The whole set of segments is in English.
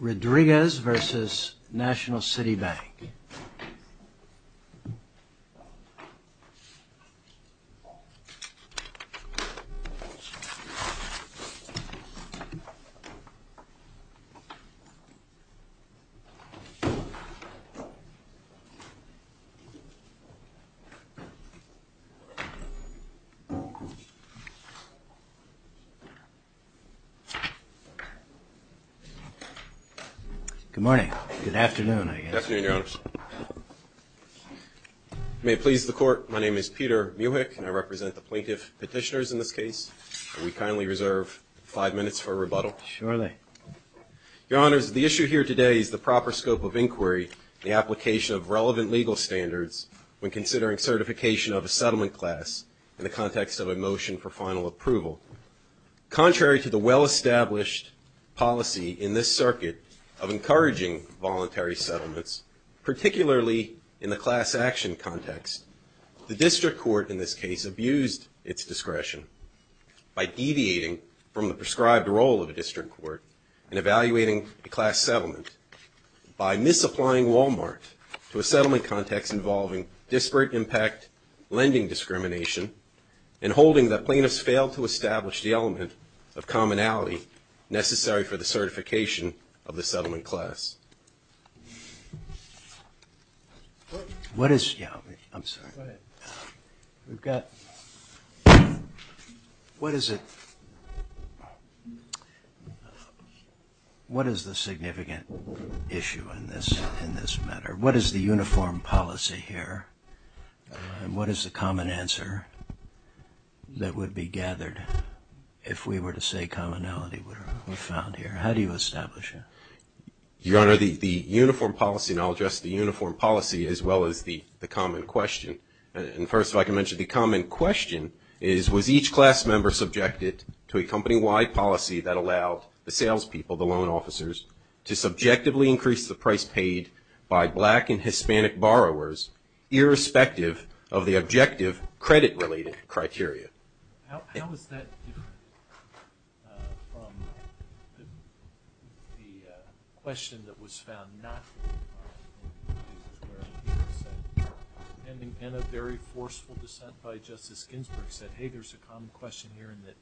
Rodriguez v. National City Bank Good morning. Good afternoon, I guess. Good afternoon, Your Honors. May it please the Court, my name is Peter Muhic and I represent the plaintiff petitioners in this case. We kindly reserve five minutes for rebuttal. Surely. Your Honors, the issue here today is the proper scope of inquiry in the application of relevant legal standards when considering certification of a settlement class in the context of a motion for final approval. Contrary to the well-established policy in this circuit of encouraging voluntary settlements, particularly in the class action context, the district court in this case abused its discretion by deviating from the prescribed role of the district court and evaluating a class settlement by misapplying Walmart to a settlement context involving disparate impact lending discrimination and holding that plaintiffs failed to establish the element of commonality necessary for the certification of the settlement class. What is the significant issue in this matter? What is the uniform policy here and what is the common answer that would be gathered if we were to say commonality were found here? How do you establish it? Your Honor, the uniform policy, and I'll address the uniform policy as well as the common question. And first if I can mention the common question is, was each class member subjected to a company-wide policy that allowed the salespeople, the loan officers, to subjectively increase the price paid by black and Hispanic borrowers irrespective of the objective credit-related criteria? How is that different from the question that was found not to be possible in the cases where people said, and a very forceful dissent by Justice Ginsburg said, hey, there's a common question here in that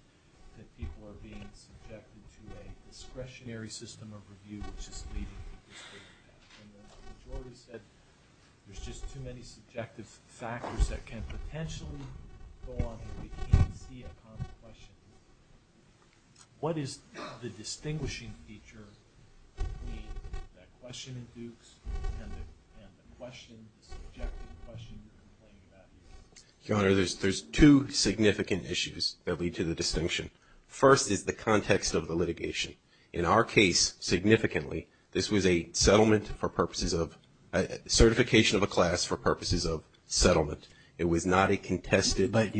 people are being subjected to a discretionary system of review which is leading to disparate impact. And the majority said there's just too many subjective factors that can potentially go on if we can't see a common question. What is the distinguishing feature between that question in Dukes and the question, the subjective question you're complaining about? Your Honor, there's two significant issues that lead to the distinction. First is the context of the litigation. In our case, significantly, this was a settlement for purposes of, certification of a class for purposes of settlement. It was not a contested motion. But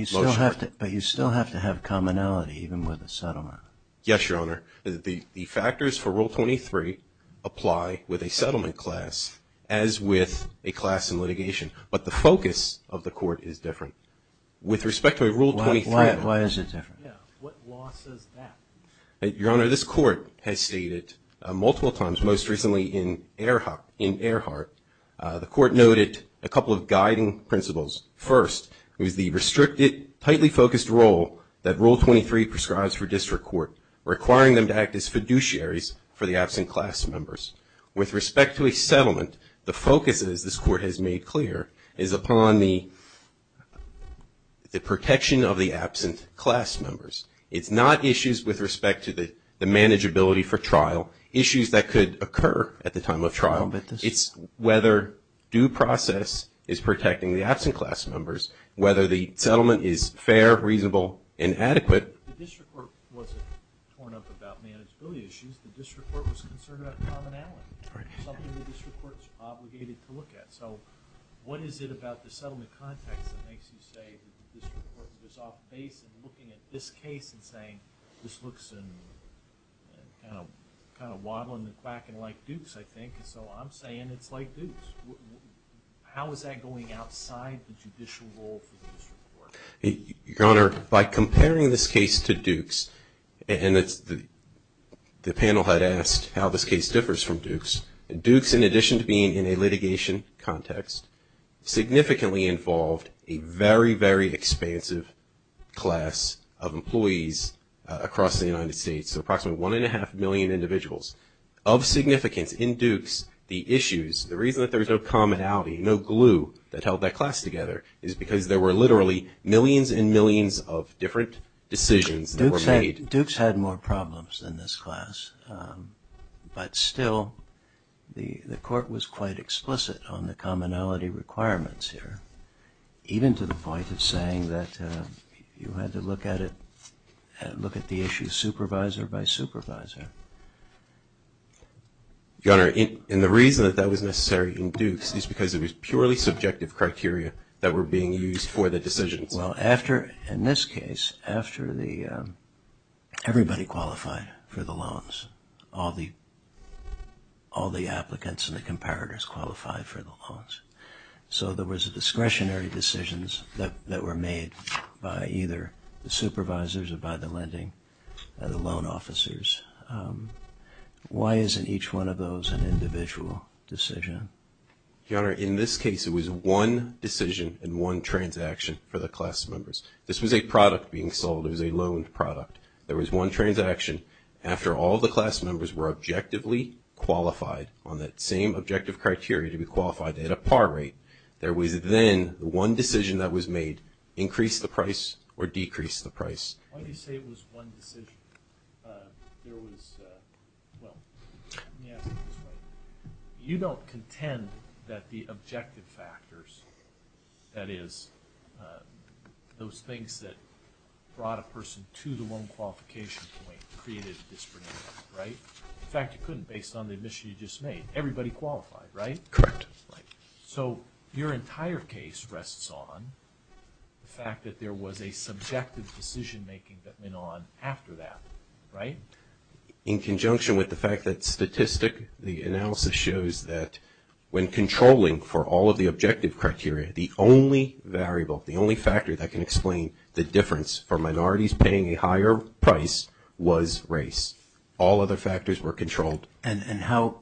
you still have to have commonality even with a settlement. Yes, Your Honor. The factors for Rule 23 apply with a settlement class as with a class in litigation. But the focus of the court is different. With respect to Rule 23. Why is it different? What law says that? Your Honor, this court has stated multiple times, most recently in Earhart. The court noted a couple of guiding principles. First was the restricted, tightly focused role that Rule 23 prescribes for district court requiring them to act as fiduciaries for the absent class members. With respect to a settlement, the focus, as this court has made clear, is upon the protection of the absent class members. It's not issues with respect to the manageability for trial. Issues that could occur at the time of trial. It's whether due process is protecting the absent class members. Whether the settlement is fair, reasonable, and adequate. The district court wasn't torn up about manageability issues. The district court was concerned about commonality. Something the district court is obligated to look at. So what is it about the settlement context that makes you say that the district court was off base in looking at this case and saying, this looks kind of wobbling and quacking like Duke's, I think. So I'm saying it's like Duke's. How is that going outside the judicial role for the district court? Your Honor, by comparing this case to Duke's, and the panel had asked how this case differs from Duke's. Duke's, in addition to being in a litigation context, significantly involved a very, very expansive class of employees across the United States. So approximately one and a half million individuals. Of significance in Duke's, the issues, the reason that there was no commonality, no glue that held that class together, is because there were literally millions and millions of different decisions that were made. Duke's had more problems than this class. But still, the court was quite explicit on the commonality requirements here. Even to the point of saying that you had to look at it, look at the issues supervisor by supervisor. Your Honor, and the reason that that was necessary in Duke's is because it was purely subjective criteria that were being used for the decisions. Well, in this case, everybody qualified for the loans. All the applicants and the comparators qualified for the loans. So there was discretionary decisions that were made by either the supervisors or by the lending or the loan officers. Why isn't each one of those an individual decision? Your Honor, in this case, it was one decision and one transaction for the class members. This was a product being sold. It was a loaned product. There was one transaction. After all the class members were objectively qualified on that same objective criteria to be qualified at a par rate, there was then one decision that was made, increase the price or decrease the price. Why do you say it was one decision? There was, well, let me ask it this way. You don't contend that the objective factors, that is, those things that brought a person to the loan qualification point created a disagreement, right? In fact, you couldn't based on the admission you just made. Everybody qualified, right? Correct. So your entire case rests on the fact that there was a subjective decision making that went on after that, right? In conjunction with the fact that statistic, the analysis shows that when controlling for all of the objective criteria, the only variable, the only factor that can explain the difference for minorities paying a higher price was race. All other factors were controlled. And how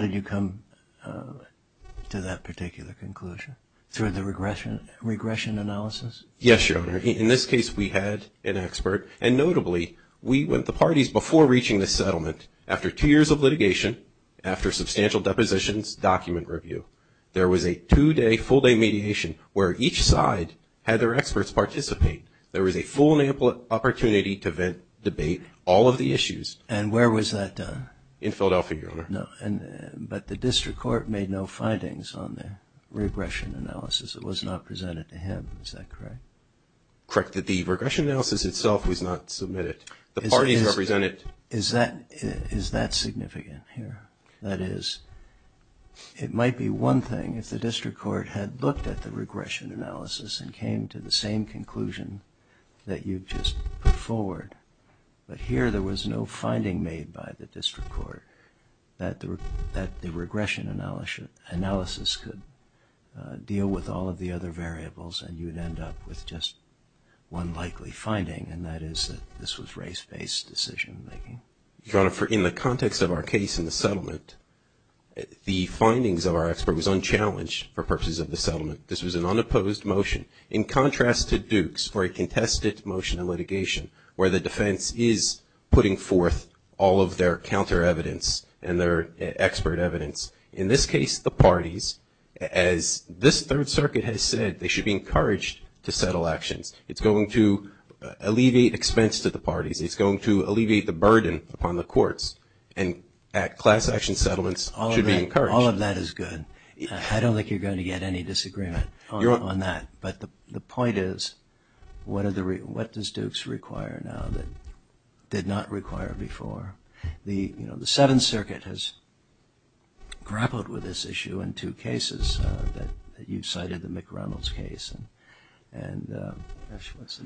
did you come to that particular conclusion? Through the regression analysis? Yes, Your Honor. In this case, we had an expert. And notably, we went to parties before reaching the settlement, after two years of litigation, after substantial depositions, document review. There was a two-day, full-day mediation where each side had their experts participate. There was a full opportunity to debate all of the issues. And where was that done? In Philadelphia, Your Honor. But the district court made no findings on the regression analysis. It was not presented to him. Is that correct? Correct. The regression analysis itself was not submitted. The parties represented. Is that significant here? That is, it might be one thing if the district court had looked at the regression analysis and came to the same conclusion that you've just put forward. But here, there was no finding made by the district court that the regression analysis could deal with all of the other variables and you'd end up with just one likely finding. And that is that this was race-based decision-making. Your Honor, in the context of our case in the settlement, the findings of our expert was unchallenged for purposes of the settlement. This was an unopposed motion. In contrast to Duke's, for a contested motion of litigation, where the defense is putting forth all of their counter evidence and their expert evidence, in this case the parties, as this Third Circuit has said, they should be encouraged to settle actions. It's going to alleviate expense to the parties. It's going to alleviate the burden upon the courts. And class action settlements should be encouraged. All of that is good. I don't think you're going to get any disagreement on that. But the point is, what does Duke's require now that did not require before? The Seventh Circuit has grappled with this issue in two cases that you've cited, the McReynolds case and the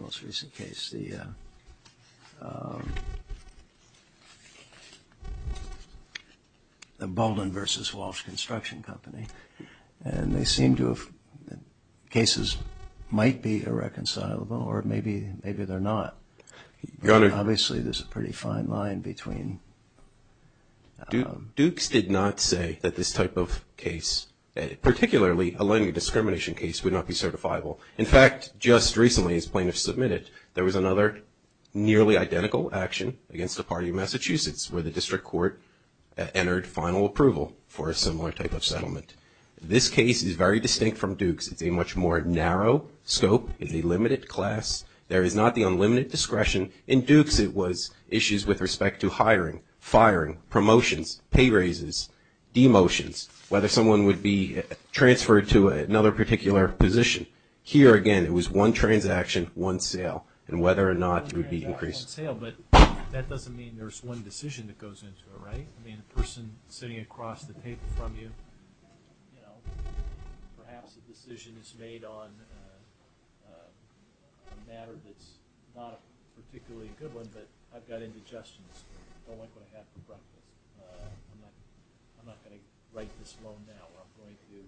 most recent case, the Bolden v. Walsh Construction Company. And they seem to have cases that might be irreconcilable, or maybe they're not. Obviously, there's a pretty fine line between. Duke's did not say that this type of case, particularly a lending discrimination case, would not be certifiable. In fact, just recently, as plaintiffs submitted, entered final approval for a similar type of settlement. This case is very distinct from Duke's. It's a much more narrow scope. It's a limited class. There is not the unlimited discretion. In Duke's, it was issues with respect to hiring, firing, promotions, pay raises, demotions, whether someone would be transferred to another particular position. Here, again, it was one transaction, one sale, and whether or not it would be increased. But that doesn't mean there's one decision that goes into it, right? I mean, the person sitting across the table from you. You know, perhaps a decision is made on a matter that's not particularly a good one, but I've got indigestions. I don't like what I had for breakfast. I'm not going to write this loan now. I'm going to,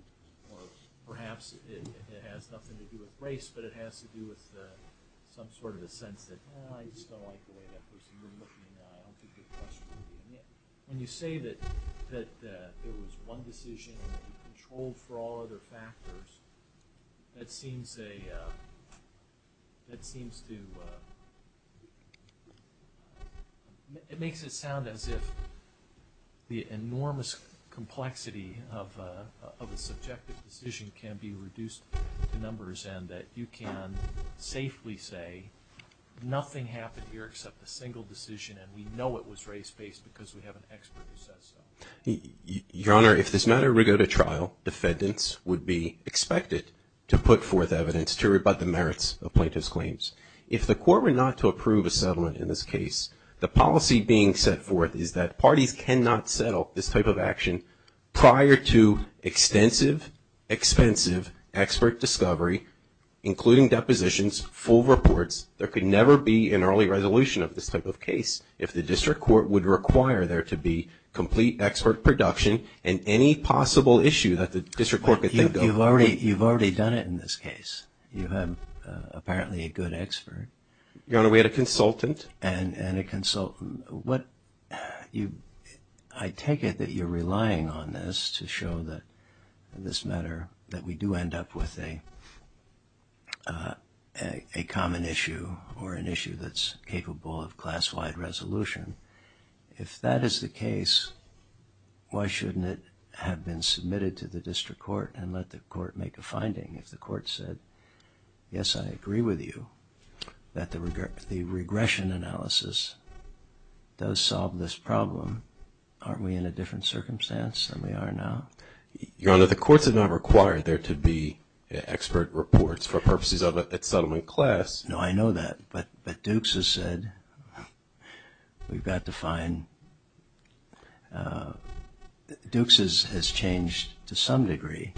or perhaps it has nothing to do with race, but it has to do with some sort of a sense that, well, I just don't like the way that person is looking now. I don't think it's a question of doing it. When you say that there was one decision and it was controlled for all other factors, that seems to make it sound as if the enormous complexity of a subjective decision can be reduced to numbers and that you can safely say nothing happened here except a single decision and we know it was race-based because we have an expert who says so. Your Honor, if this matter were to go to trial, defendants would be expected to put forth evidence to rebut the merits of plaintiff's claims. If the Court were not to approve a settlement in this case, the policy being set forth is that parties cannot settle this type of action prior to extensive, expensive expert discovery, including depositions, full reports. There could never be an early resolution of this type of case if the District Court would require there to be complete expert production and any possible issue that the District Court could think of. You've already done it in this case. You have apparently a good expert. Your Honor, we had a consultant. And a consultant. I take it that you're relying on this to show that in this matter that we do end up with a common issue or an issue that's capable of class-wide resolution. If that is the case, why shouldn't it have been submitted to the District Court and let the Court make a finding if the Court said, Yes, I agree with you that the regression analysis does solve this problem. Aren't we in a different circumstance than we are now? Your Honor, the Courts have not required there to be expert reports for purposes of a settlement class. No, I know that. But Dukes has said we've got to find... Dukes has changed, to some degree,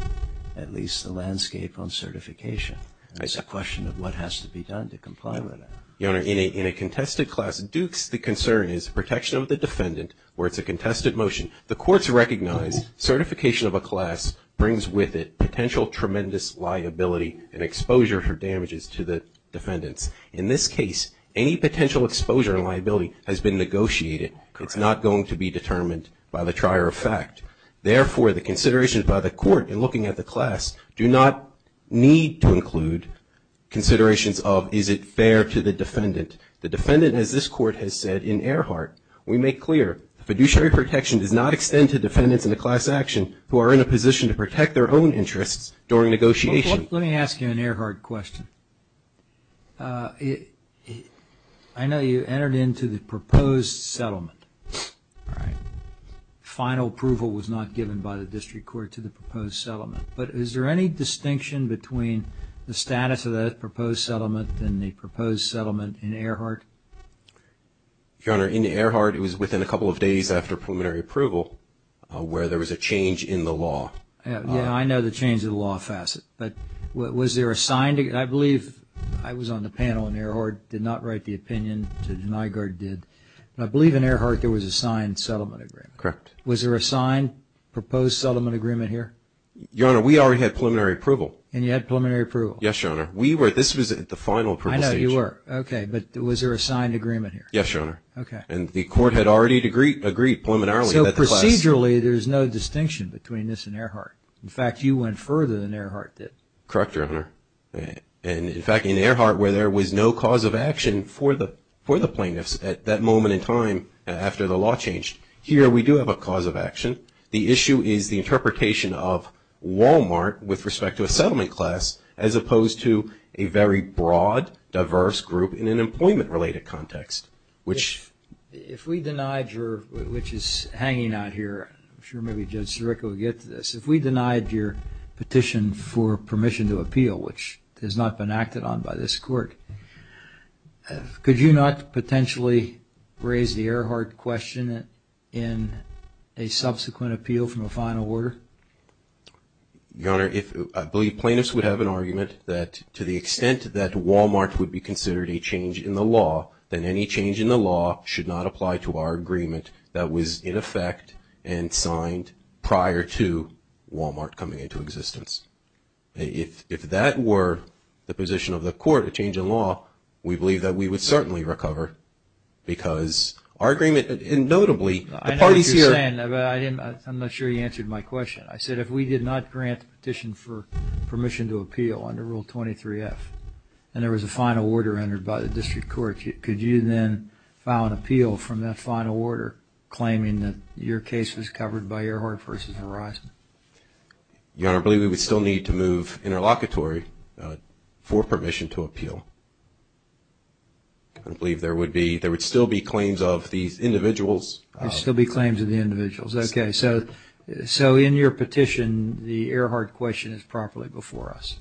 at least the landscape on certification. It's a question of what has to be done to comply with it. Your Honor, in a contested class, Dukes, the concern is protection of the defendant where it's a contested motion. The Courts recognize certification of a class brings with it potential tremendous liability and exposure for damages to the defendants. In this case, any potential exposure and liability has been negotiated. Correct. It is not going to be determined by the trier of fact. Therefore, the considerations by the Court in looking at the class do not need to include considerations of is it fair to the defendant. The defendant, as this Court has said in Earhart, we make clear, the fiduciary protection does not extend to defendants in a class action who are in a position to protect their own interests during negotiation. Let me ask you an Earhart question. I know you entered into the proposed settlement. Right. Final approval was not given by the District Court to the proposed settlement. But is there any distinction between the status of the proposed settlement and the proposed settlement in Earhart? Your Honor, in Earhart, it was within a couple of days after preliminary approval where there was a change in the law. Yeah, I know the change in the law facet. But was there a signed agreement? I believe I was on the panel in Earhart, did not write the opinion. The NIAGAR did. And I believe in Earhart there was a signed settlement agreement. Correct. Was there a signed proposed settlement agreement here? Your Honor, we already had preliminary approval. And you had preliminary approval? Yes, Your Honor. This was at the final approval stage. I know you were. Okay. But was there a signed agreement here? Yes, Your Honor. Okay. And the Court had already agreed preliminarily. So procedurally, there's no distinction between this and Earhart. In fact, you went further than Earhart did. Correct, Your Honor. And, in fact, in Earhart, where there was no cause of action for the plaintiffs at that moment in time after the law changed, here we do have a cause of action. The issue is the interpretation of Walmart with respect to a settlement class as opposed to a very broad, diverse group in an employment-related context, which… If we denied your – which is hanging out here. I'm sure maybe Judge Sirico will get to this. If we denied your petition for permission to appeal, which has not been acted on by this Court, could you not potentially raise the Earhart question in a subsequent appeal from a final order? Your Honor, I believe plaintiffs would have an argument that, to the extent that Walmart would be considered a change in the law, then any change in the law should not apply to our agreement that was, in effect, and signed prior to Walmart coming into existence. If that were the position of the Court, a change in law, we believe that we would certainly recover because our agreement – and notably, the parties here… I know what you're saying, but I'm not sure you answered my question. I said if we did not grant the petition for permission to appeal under Rule 23-F and there was a final order entered by the District Court, could you then file an appeal from that final order, claiming that your case was covered by Earhart v. Verizon? Your Honor, I believe we would still need to move interlocutory for permission to appeal. I believe there would be – there would still be claims of these individuals… There would still be claims of the individuals. Okay. So in your petition, the Earhart question is properly before us.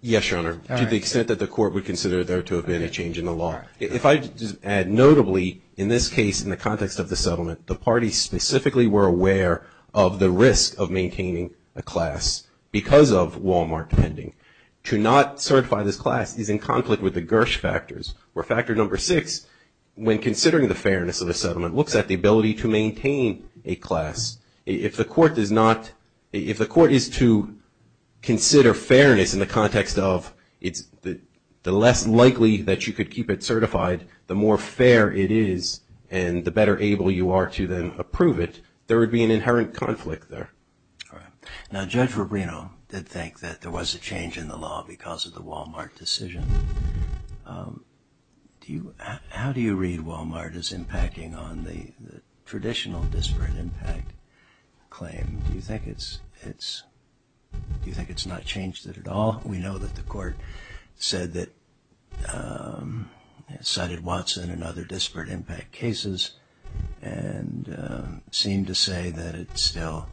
Yes, Your Honor. To the extent that the Court would consider there to have been a change in the law. If I just add, notably, in this case, in the context of the settlement, the parties specifically were aware of the risk of maintaining a class because of Walmart pending. To not certify this class is in conflict with the Gersh factors, where factor number six, when considering the fairness of the settlement, looks at the ability to maintain a class. If the Court is to consider fairness in the context of the less likely that you could keep it certified, the more fair it is and the better able you are to then approve it, there would be an inherent conflict there. All right. Now Judge Rubino did think that there was a change in the law because of the Walmart decision. How do you read Walmart as impacting on the traditional disparate impact claim? Do you think it's not changed it at all? We know that the Court said that it cited Watson and other disparate impact cases and seemed to say that it still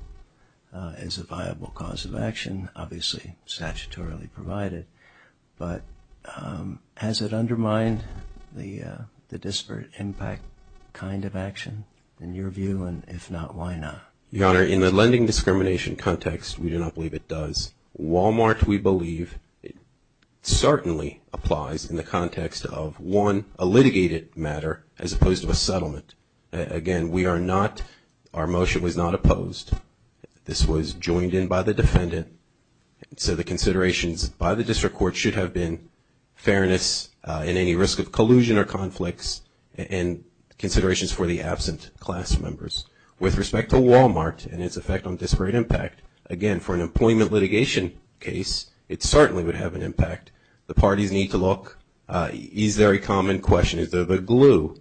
is a viable cause of action, obviously, statutorily provided. But has it undermined the disparate impact kind of action, in your view, and if not, why not? Your Honor, in the lending discrimination context, we do not believe it does. Walmart, we believe, certainly applies in the context of, one, a litigated matter as opposed to a settlement. Again, we are not, our motion was not opposed. This was joined in by the defendant. So the considerations by the District Court should have been fairness in any risk of collusion or conflicts and considerations for the absent class members. With respect to Walmart and its effect on disparate impact, again, for an employment litigation case, it certainly would have an impact. The parties need to look. Is there a common question? Is there a glue?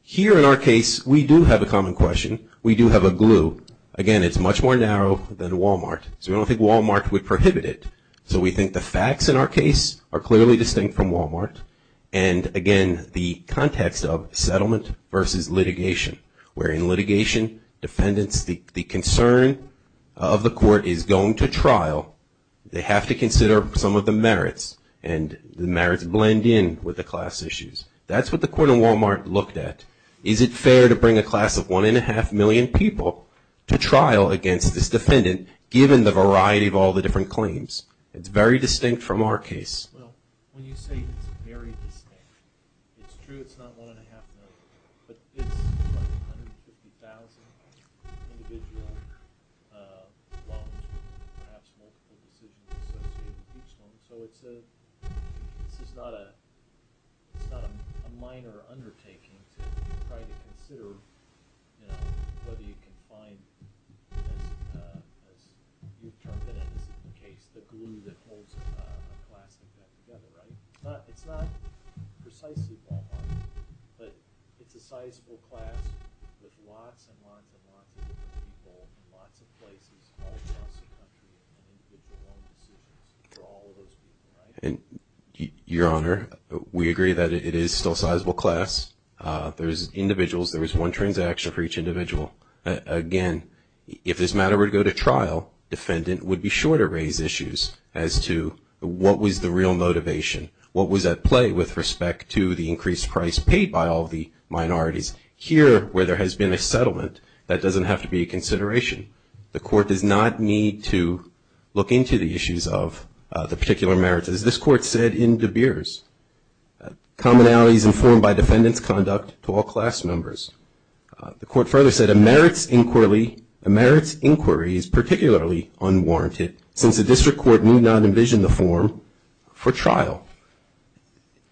Here in our case, we do have a common question. We do have a glue. Again, it's much more narrow than Walmart. So we don't think Walmart would prohibit it. So we think the facts in our case are clearly distinct from Walmart. And again, the context of settlement versus litigation, where in litigation, defendants, the concern of the court is going to trial. They have to consider some of the merits, and the merits blend in with the class issues. That's what the court in Walmart looked at. Is it fair to bring a class of 1.5 million people to trial against this defendant, given the variety of all the different claims? It's very distinct from our case. Well, when you say it's very distinct, it's true it's not 1.5 million, but it's like 150,000 individual loans, perhaps multiple decisions associated with each loan. So this is not a minor undertaking to try to consider whether you can find, as you've termed it in this case, the glue that holds a class of that together, right? It's not precisely Walmart, but it's a sizable class with lots and lots and lots of people in lots of places all across the country and individual loan decisions for all of those people, right? Your Honor, we agree that it is still sizable class. There's individuals, there is one transaction for each individual. Again, if this matter were to go to trial, defendant would be sure to raise issues as to what was the real motivation, what was at play with respect to the increased price paid by all of the minorities. Here, where there has been a settlement, that doesn't have to be a consideration. The Court does not need to look into the issues of the particular merits. As this Court said in De Beers, commonalities informed by defendant's conduct to all class members. The Court further said a merits inquiry is particularly unwarranted, since the district court may not envision the form for trial.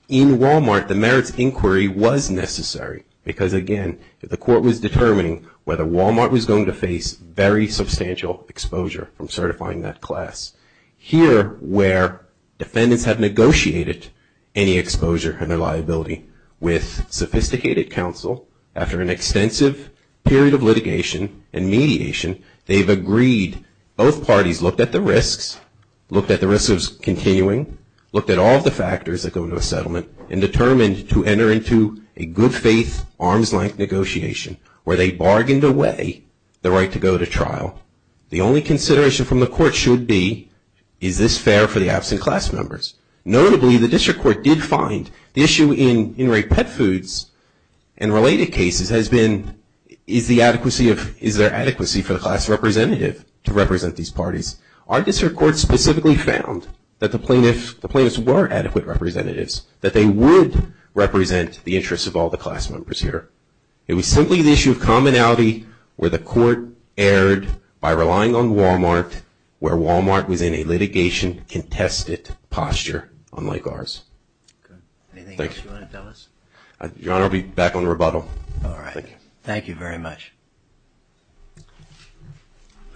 In Walmart, the merits inquiry was necessary, because again, if the Court was determining whether Walmart was going to face very substantial exposure from certifying that class. Here, where defendants have negotiated any exposure under liability with sophisticated counsel, after an extensive period of litigation and mediation, they've agreed. Both parties looked at the risks, looked at the risks of continuing, looked at all of the factors that go into a settlement, and determined to enter into a good-faith, arms-length negotiation, where they bargained away the right to go to trial. The only consideration from the Court should be, is this fair for the absent class members? Notably, the district court did find the issue in in-rate pet foods and related cases has been, is there adequacy for the class representative to represent these parties? Our district court specifically found that the plaintiffs were adequate representatives, that they would represent the interests of all the class members here. It was simply the issue of commonality where the Court erred by relying on Walmart, where Walmart was in a litigation-contested posture, unlike ours. Anything else you want to tell us? Your Honor, I'll be back on rebuttal. All right. Thank you. Thank you very much.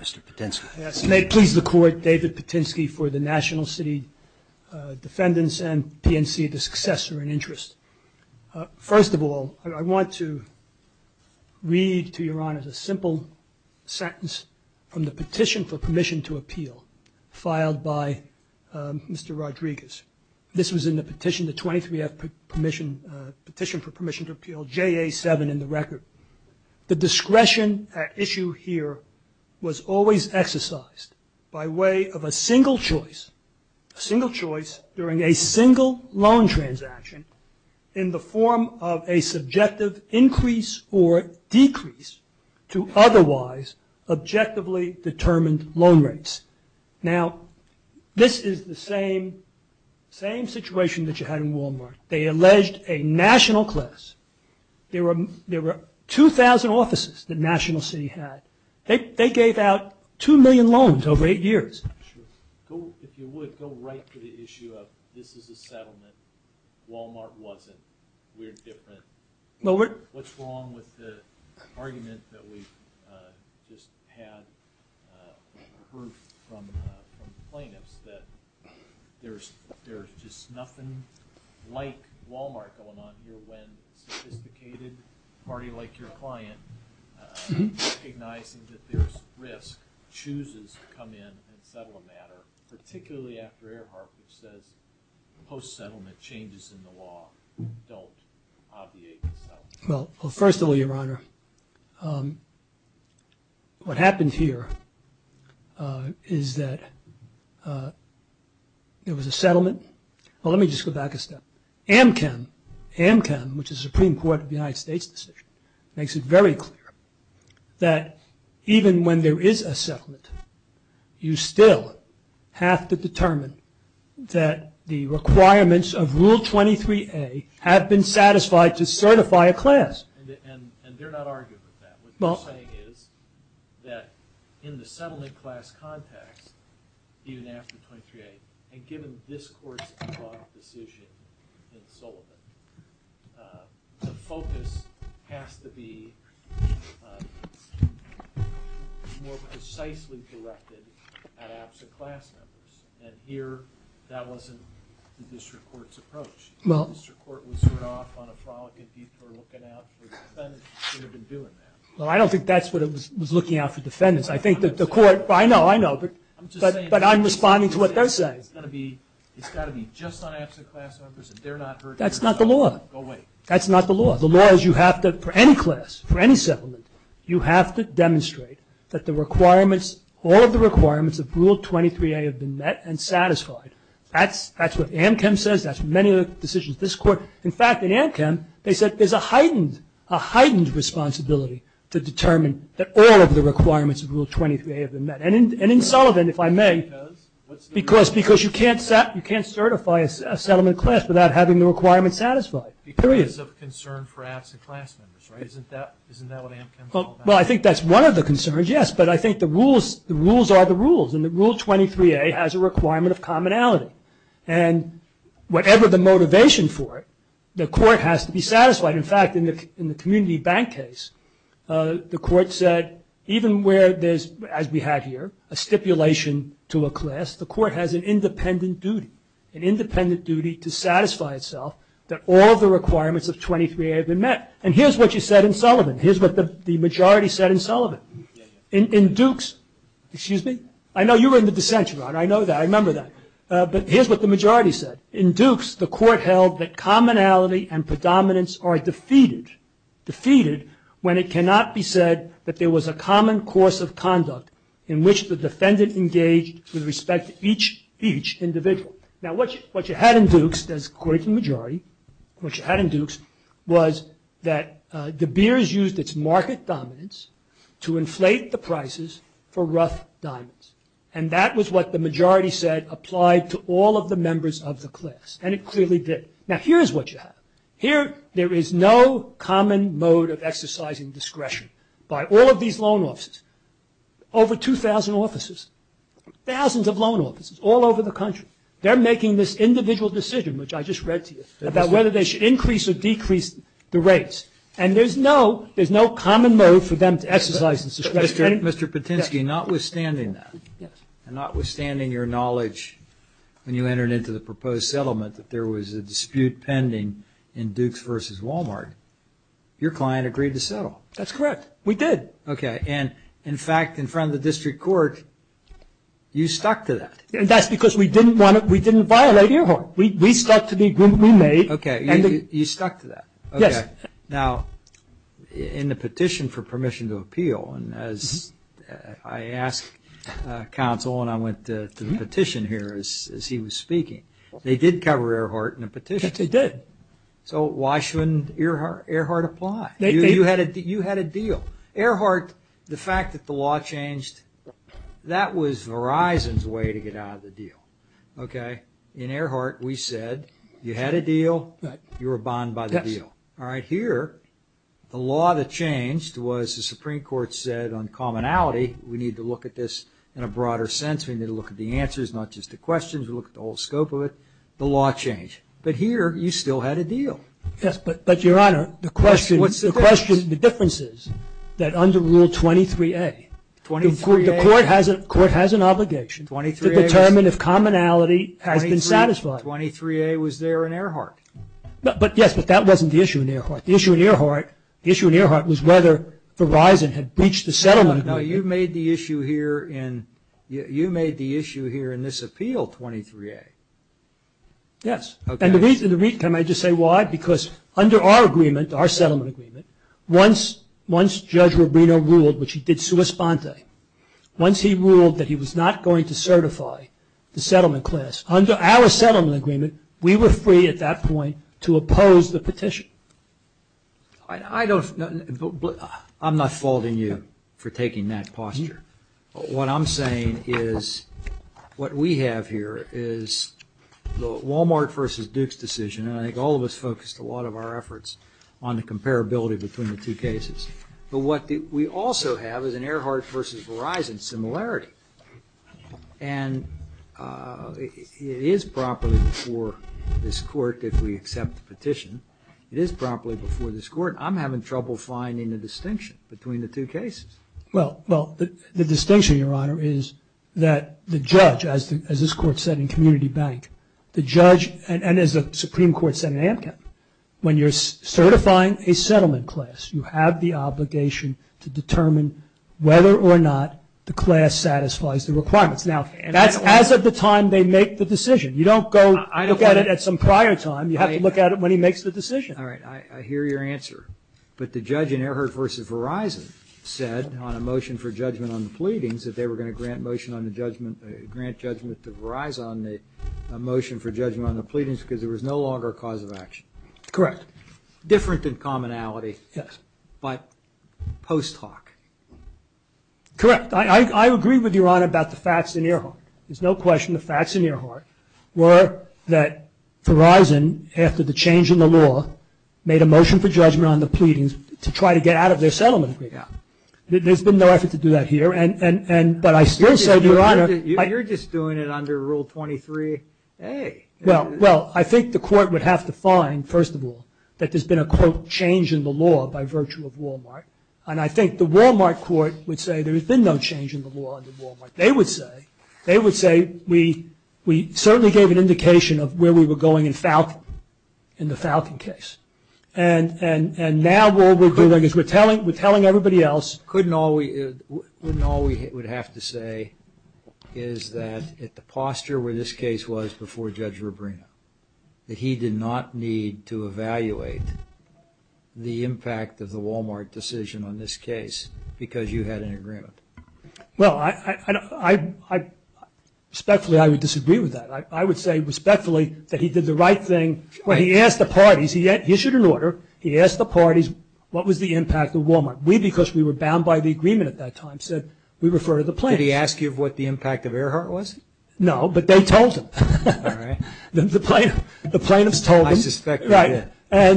Mr. Patinsky. May it please the Court, David Patinsky for the National City Defendants and PNC, the successor in interest. First of all, I want to read to Your Honor a simple sentence from the petition for permission to appeal filed by Mr. Rodriguez. This was in the petition, the 23-F petition for permission to appeal, JA-7 in the record. The discretion at issue here was always exercised by way of a single choice, a single choice during a single loan transaction in the form of a subjective increase or decrease to otherwise objectively determined loan rates. Now, this is the same situation that you had in Walmart. They alleged a national class. There were 2,000 offices that National City had. They gave out 2 million loans over eight years. If you would, go right to the issue of this is a settlement. Walmart wasn't. We're different. What's wrong with the argument that we've just heard from plaintiffs that there's just nothing like Walmart going on here when a sophisticated party like your client, recognizing that there's risk, chooses to come in and settle a matter, particularly after Earhart, which says post-settlement changes in the law don't obviate the settlement. Well, first of all, Your Honor, what happened here is that there was a settlement. AMCM, which is the Supreme Court of the United States decision, makes it very clear that even when there is a settlement, you still have to determine that the requirements of Rule 23A have been satisfied to certify a class. And they're not arguing with that. What they're saying is that in the settlement class context, even after 23A, and given this court's decision in Sullivan, the focus has to be more precisely directed at absent class members. And here, that wasn't the district court's approach. The district court was sort of on a frolicking detour looking out for defendants who should have been doing that. Well, I don't think that's what it was looking out for defendants. I know, I know, but I'm responding to what they're saying. It's got to be just on absent class members. That's not the law. That's not the law. The law is you have to, for any class, for any settlement, you have to demonstrate that the requirements, all of the requirements of Rule 23A have been met and satisfied. That's what AMCM says. That's many of the decisions of this court. In fact, in AMCM, they said there's a heightened responsibility to determine that all of the requirements of Rule 23A have been met. And in Sullivan, if I may, because you can't certify a settlement class without having the requirements satisfied. Period. Because of concern for absent class members, right? Isn't that what AMCM is all about? Well, I think that's one of the concerns, yes, but I think the rules are the rules, and Rule 23A has a requirement of commonality. And whatever the motivation for it, the court has to be satisfied. In fact, in the community bank case, the court said even where there's, as we have here, a stipulation to a class, the court has an independent duty, an independent duty to satisfy itself that all the requirements of 23A have been met. And here's what you said in Sullivan. Here's what the majority said in Sullivan. In Dukes, excuse me, I know you were in the dissent, Ron. I know that. I remember that. But here's what the majority said. In Dukes, the court held that commonality and predominance are defeated when it cannot be said that there was a common course of conduct in which the defendant engaged with respect to each individual. Now, what you had in Dukes, according to the majority, what you had in Dukes was that De Beers used its market dominance to inflate the prices for rough diamonds. And that was what the majority said applied to all of the members of the class. And it clearly did. Now, here's what you have. Here there is no common mode of exercising discretion by all of these loan officers. Over 2,000 officers, thousands of loan officers all over the country, they're making this individual decision, which I just read to you, about whether they should increase or decrease the rates. And there's no common mode for them to exercise this discretion. Mr. Patinsky, notwithstanding that, and notwithstanding your knowledge when you entered into the proposed settlement that there was a dispute pending in Dukes v. Walmart, your client agreed to settle. That's correct. We did. Okay. And, in fact, in front of the district court, you stuck to that. That's because we didn't violate Earhart. We stuck to the agreement we made. Okay. You stuck to that. Yes. Okay. Now, in the petition for permission to appeal, and as I asked counsel and I went to the petition here as he was speaking, they did cover Earhart in the petition. Yes, they did. So why shouldn't Earhart apply? You had a deal. Earhart, the fact that the law changed, that was Verizon's way to get out of the deal. Okay? In Earhart, we said you had a deal, you were bond by the deal. All right, here, the law that changed was the Supreme Court said on commonality, we need to look at this in a broader sense. We need to look at the answers, not just the questions. We look at the whole scope of it. The law changed. But here, you still had a deal. Yes, but, Your Honor, the question, the difference is that under Rule 23A, the court has an obligation to determine if commonality has been satisfied. 23A was there in Earhart. Yes, but that wasn't the issue in Earhart. The issue in Earhart was whether Verizon had breached the settlement agreement. No, you made the issue here in this appeal, 23A. Yes. And the reason, can I just say why? Because under our agreement, our settlement agreement, once Judge Rubino ruled, which he did sua sponte, once he ruled that he was not going to certify the settlement class, under our settlement agreement, we were free at that point to oppose the petition. I don't, I'm not faulting you for taking that posture. What I'm saying is what we have here is the Walmart versus Dukes decision, and I think all of us focused a lot of our efforts on the comparability between the two cases. But what we also have is an Earhart versus Verizon similarity. And it is properly before this court, if we accept the petition, it is properly before this court. I'm having trouble finding the distinction between the two cases. Well, the distinction, Your Honor, is that the judge, as this court said in Community Bank, the judge, and as the Supreme Court said in AMCAP, when you're certifying a settlement class, you have the obligation to determine whether or not the class satisfies the requirements. Now, that's as of the time they make the decision. You don't go look at it at some prior time. You have to look at it when he makes the decision. All right. I hear your answer. But the judge in Earhart versus Verizon said on a motion for judgment on the pleadings that they were going to grant judgment to Verizon on the motion for judgment on the pleadings because there was no longer a cause of action. Correct. Different in commonality. Yes. But post hoc. Correct. I agree with Your Honor about the facts in Earhart. There's no question the facts in Earhart were that Verizon, after the change in the law, made a motion for judgment on the pleadings to try to get out of their settlement. There's been no effort to do that here. But I still say, Your Honor. You're just doing it under Rule 23A. Well, I think the court would have to find, first of all, that there's been a, quote, change in the law by virtue of Walmart. And I think the Walmart court would say there has been no change in the law under Walmart. They would say we certainly gave an indication of where we were going in the Falcon case. And now what we're doing is we're telling everybody else. Couldn't all we would have to say is that at the posture where this case was before Judge Rubino, that he did not need to evaluate the impact of the Walmart decision on this case because you had an agreement. Well, respectfully, I would disagree with that. I would say respectfully that he did the right thing. When he asked the parties, he issued an order. He asked the parties what was the impact of Walmart. We, because we were bound by the agreement at that time, said we refer to the plaintiffs. Did he ask you what the impact of Earhart was? No, but they told him. All right. The plaintiffs told him. I suspect they did. Right.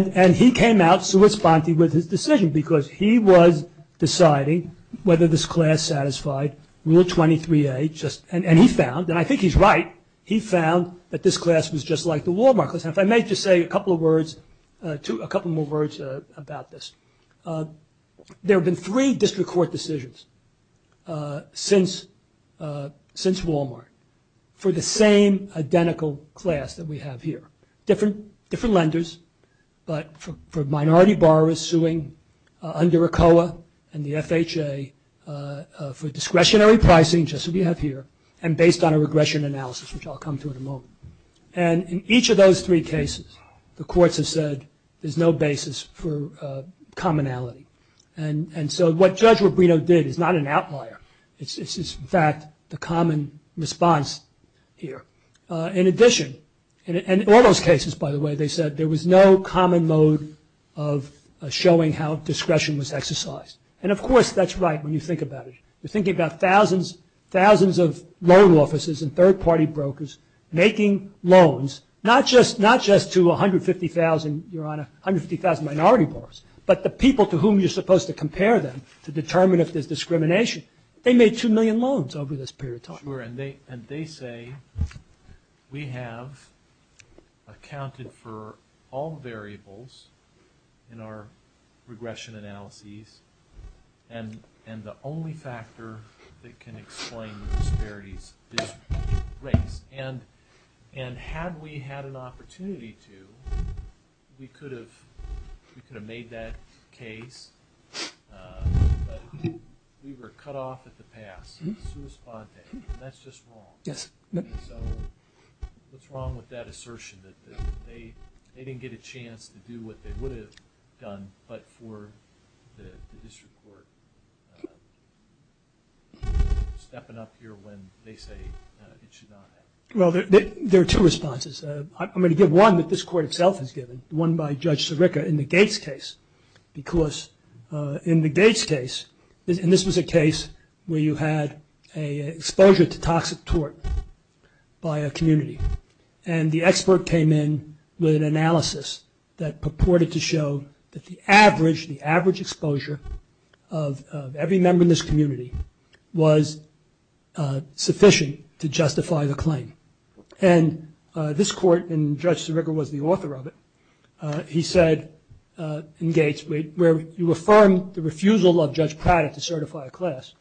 And he came out sui sponte with his decision because he was deciding whether this class satisfied Rule 23A. And he found, and I think he's right, he found that this class was just like the Walmart. If I may just say a couple of words, a couple more words about this. There have been three district court decisions since Walmart for the same identical class that we have here. Different lenders, but for minority borrowers suing under ACOA and the FHA for discretionary pricing, just as we have here, and based on a regression analysis, which I'll come to in a moment. And in each of those three cases, the courts have said there's no basis for commonality. And so what Judge Rubino did is not an outlier. It's, in fact, the common response here. In addition, and in all those cases, by the way, they said there was no common mode of showing how discretion was exercised. And, of course, that's right when you think about it. You're thinking about thousands of loan offices and third-party brokers making loans, not just to 150,000, Your Honor, 150,000 minority borrowers, but the people to whom you're supposed to compare them to determine if there's discrimination. They made two million loans over this period of time. Sure, and they say we have accounted for all variables in our regression analyses, and the only factor that can explain the disparities is race. And had we had an opportunity to, we could have made that case, but we were cut off at the pass, and that's just wrong. Yes. So what's wrong with that assertion that they didn't get a chance to do what they would have done, but for the district court stepping up here when they say it should not have? Well, there are two responses. I'm going to give one that this Court itself has given, one by Judge Sirica in the Gates case, because in the Gates case, and this was a case where you had an exposure to toxic tort by a community, and the expert came in with an analysis that purported to show that the average, the average exposure of every member in this community was sufficient to justify the claim. And this Court, and Judge Sirica was the author of it, he said in Gates, where you affirm the refusal of Judge Pratt to certify a class,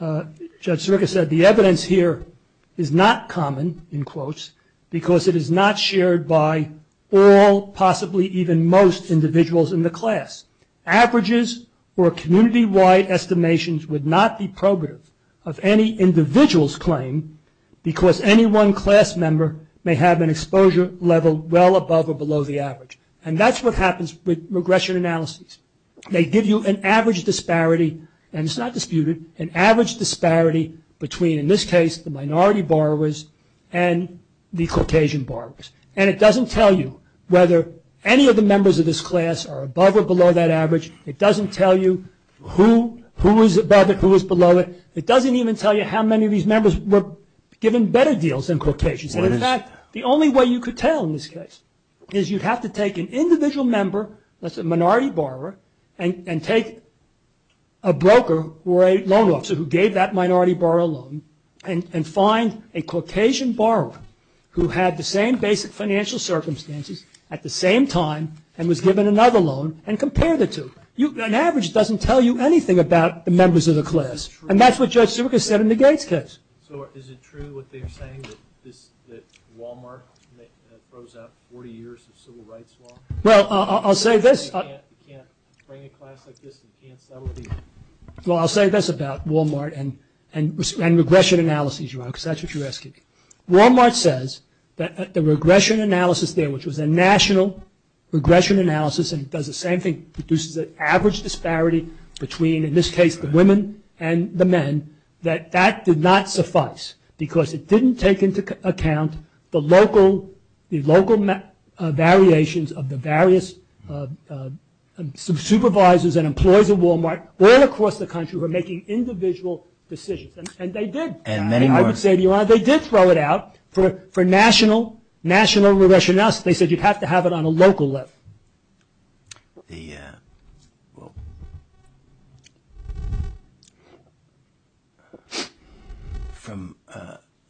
Judge Sirica said the evidence here is not common, in quotes, because it is not shared by all, possibly even most individuals in the class. Averages or community-wide estimations would not be probative of any individual's claim because any one class member may have an exposure level well above or below the average. And that's what happens with regression analyses. They give you an average disparity, and it's not disputed, an average disparity between, in this case, the minority borrowers and the Caucasian borrowers. And it doesn't tell you whether any of the members of this class are above or below that average. It doesn't tell you who is above it, who is below it. It doesn't even tell you how many of these members were given better deals than Caucasians. And in fact, the only way you could tell in this case is you'd have to take an individual member, let's say a minority borrower, and take a broker or a loan officer who gave that minority borrower a loan and find a Caucasian borrower who had the same basic financial circumstances at the same time and was given another loan and compare the two. An average doesn't tell you anything about the members of the class. And that's what Judge Sirica said in the Gates case. So is it true what they're saying, that Walmart froze out 40 years of civil rights law? Well, I'll say this. Well, I'll say this about Walmart and regression analysis, because that's what you're asking. Walmart says that the regression analysis there, which was a national regression analysis and does the same thing, produces an average disparity between, in this case, the women and the men, that that did not suffice because it didn't take into account the local variations of the various supervisors and employees at Walmart all across the country who were making individual decisions. And they did. And many more. I would say they did throw it out for national regression analysis. They said you'd have to have it on a local level. From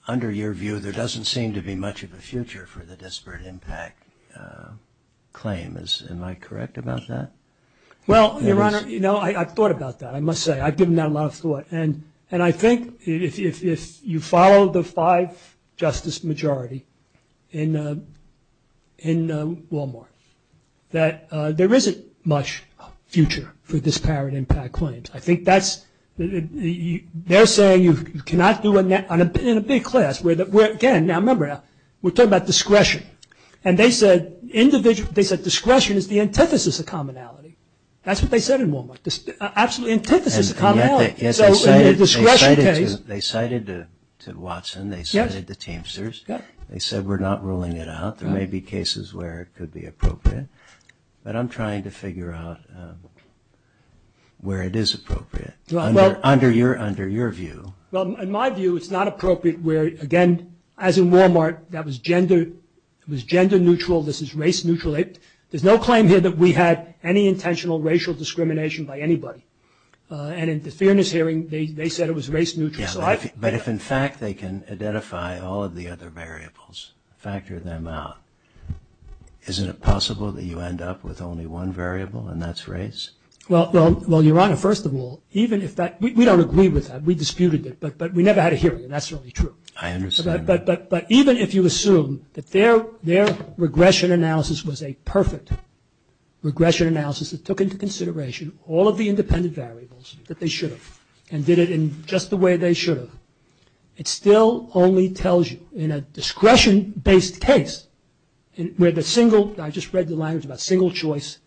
under your view, there doesn't seem to be much of a future for the disparate impact claim. Am I correct about that? Well, Your Honor, I've thought about that, I must say. I've given that a lot of thought. And I think if you follow the five-justice majority in Walmart, that there isn't much future for disparate impact claims. I think that's, they're saying you cannot do it in a big class. Again, now remember, we're talking about discretion. And they said discretion is the antithesis of commonality. That's what they said in Walmart, absolutely antithesis of commonality. They cited Watson, they cited the Teamsters, they said we're not ruling it out. There may be cases where it could be appropriate. But I'm trying to figure out where it is appropriate, under your view. Well, in my view, it's not appropriate where, again, as in Walmart, that was gender neutral, this is race neutral. There's no claim here that we had any intentional racial discrimination by anybody. And in the Fairness Hearing, they said it was race neutral. But if, in fact, they can identify all of the other variables, factor them out, isn't it possible that you end up with only one variable, and that's race? Well, Your Honor, first of all, even if that, we don't agree with that, we disputed it, but we never had a hearing, and that's really true. I understand. But even if you assume that their regression analysis was a perfect regression analysis that took into consideration all of the independent variables that they should have, and did it in just the way they should have, it still only tells you, in a discretion-based case, where the single, I just read the language about single choice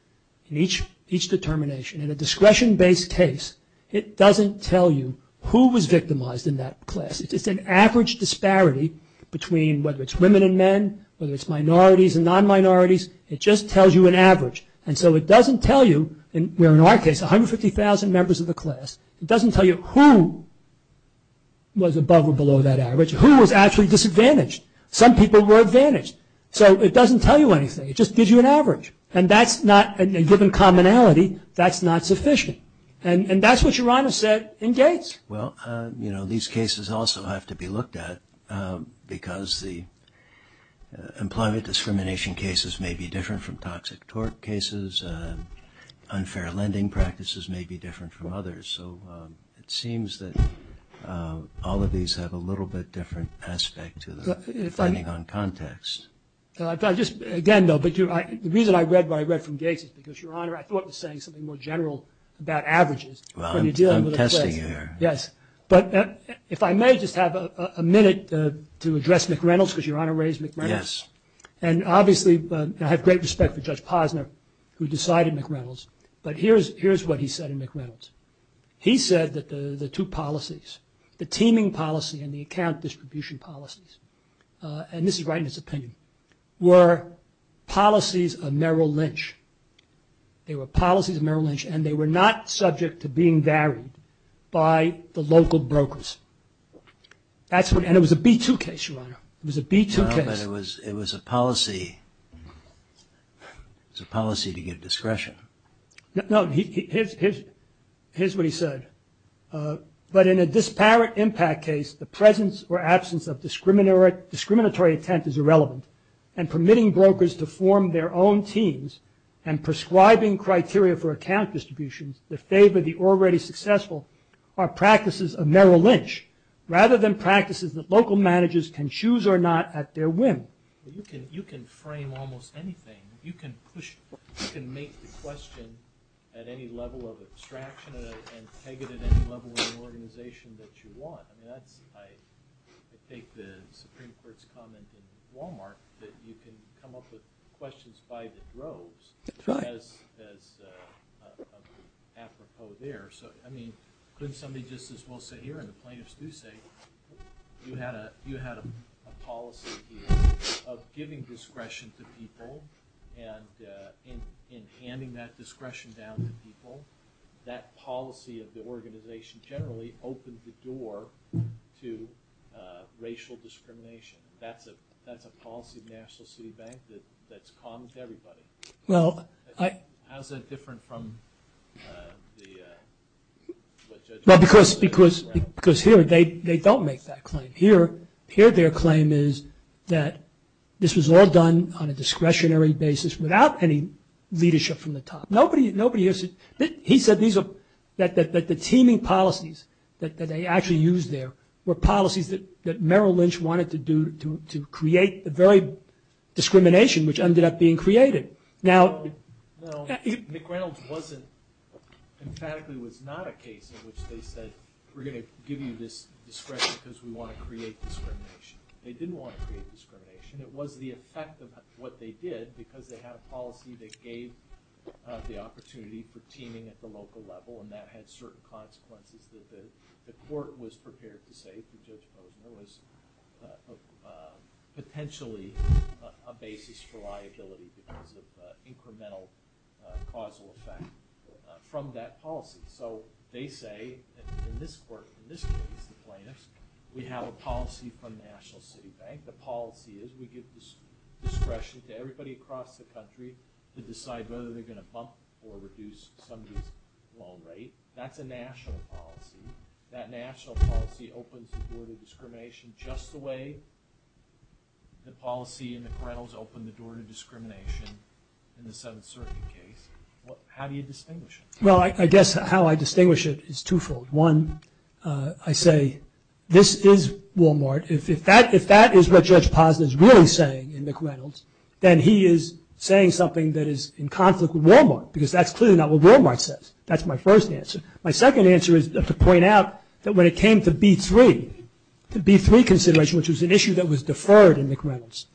in each determination, in a discretion-based case, it doesn't tell you who was victimized in that class. It's an average disparity between whether it's women and men, whether it's minorities and non-minorities, it just tells you an average. And so it doesn't tell you, where in our case 150,000 members of the class, it doesn't tell you who was above or below that average, who was actually disadvantaged. Some people were advantaged. So it doesn't tell you anything. It just gives you an average. And that's not, a given commonality, that's not sufficient. And that's what Your Honor said in Gates. Well, you know, these cases also have to be looked at, because the employment discrimination cases may be different from toxic tort cases, unfair lending practices may be different from others. So it seems that all of these have a little bit different aspect to them, depending on context. Again, though, the reason I read what I read from Gates is because, Your Honor, I thought it was saying something more general about averages. Well, I'm testing you here. Yes. But if I may just have a minute to address McReynolds, because Your Honor raised McReynolds. Yes. And obviously I have great respect for Judge Posner, who decided McReynolds. But here's what he said in McReynolds. He said that the two policies, the teaming policy and the account distribution policies, and this is right in his opinion, were policies of Merrill Lynch. They were policies of Merrill Lynch, and they were not subject to being varied by the local brokers. And it was a B-2 case, Your Honor. It was a B-2 case. No, but it was a policy to give discretion. No, here's what he said. But in a disparate impact case, the presence or absence of discriminatory intent is irrelevant, and permitting brokers to form their own teams and prescribing criteria for account distributions that favor the already successful are practices of Merrill Lynch, rather than practices that local managers can choose or not at their whim. You can frame almost anything. You can make the question at any level of abstraction and peg it at any level in the organization that you want. I think the Supreme Court's comment in Wal-Mart that you can come up with questions by the droves as apropos there. So, I mean, couldn't somebody just as well say here, and the plaintiffs do say, you had a policy here of giving discretion to people, and in handing that discretion down to people, that policy of the organization generally opened the door to racial discrimination. That's a policy of the National City Bank that's common to everybody. How is that different from what judges do? Well, because here they don't make that claim. Here their claim is that this was all done on a discretionary basis without any leadership from the top. He said that the teaming policies that they actually used there were policies that Merrill Lynch wanted to do to create the very discrimination which ended up being created. Now, McReynolds emphatically was not a case in which they said, we're going to give you this discretion because we want to create discrimination. They didn't want to create discrimination. It was the effect of what they did because they had a policy that gave the opportunity for teaming at the local level, and that had certain consequences that the court was prepared to say to Judge Posner was potentially a basis for liability because of incremental causal effect from that policy. So, they say in this court, in this case, the plaintiffs, we have a policy from the National City Bank. That's what I think the policy is. We give this discretion to everybody across the country to decide whether they're going to bump or reduce somebody's loan rate. That's a national policy. That national policy opens the door to discrimination just the way the policy in McReynolds opened the door to discrimination in the Seventh Circuit case. How do you distinguish it? Well, I guess how I distinguish it is twofold. One, I say this is Walmart. If that is what Judge Posner is really saying in McReynolds, then he is saying something that is in conflict with Walmart because that's clearly not what Walmart says. That's my first answer. My second answer is to point out that when it came to B-3, the B-3 consideration, which was an issue that was deferred in McReynolds,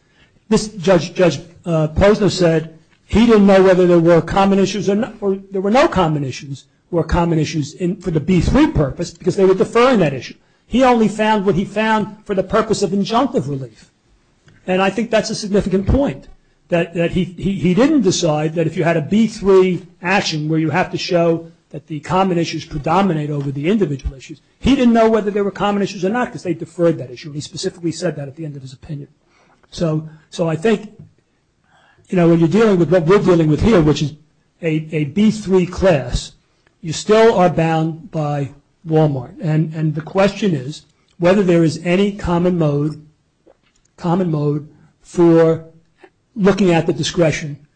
Judge Posner said he didn't know whether there were common issues or there were no common issues or common issues for the B-3 purpose because they were deferring that issue. He only found what he found for the purpose of injunctive relief. And I think that's a significant point that he didn't decide that if you had a B-3 action where you have to show that the common issues predominate over the individual issues, he didn't know whether there were common issues or not because they deferred that issue. He specifically said that at the end of his opinion. So I think, you know, when you're dealing with what we're dealing with here, which is a B-3 class, you still are bound by Walmart. And the question is whether there is any common mode for looking at the discretion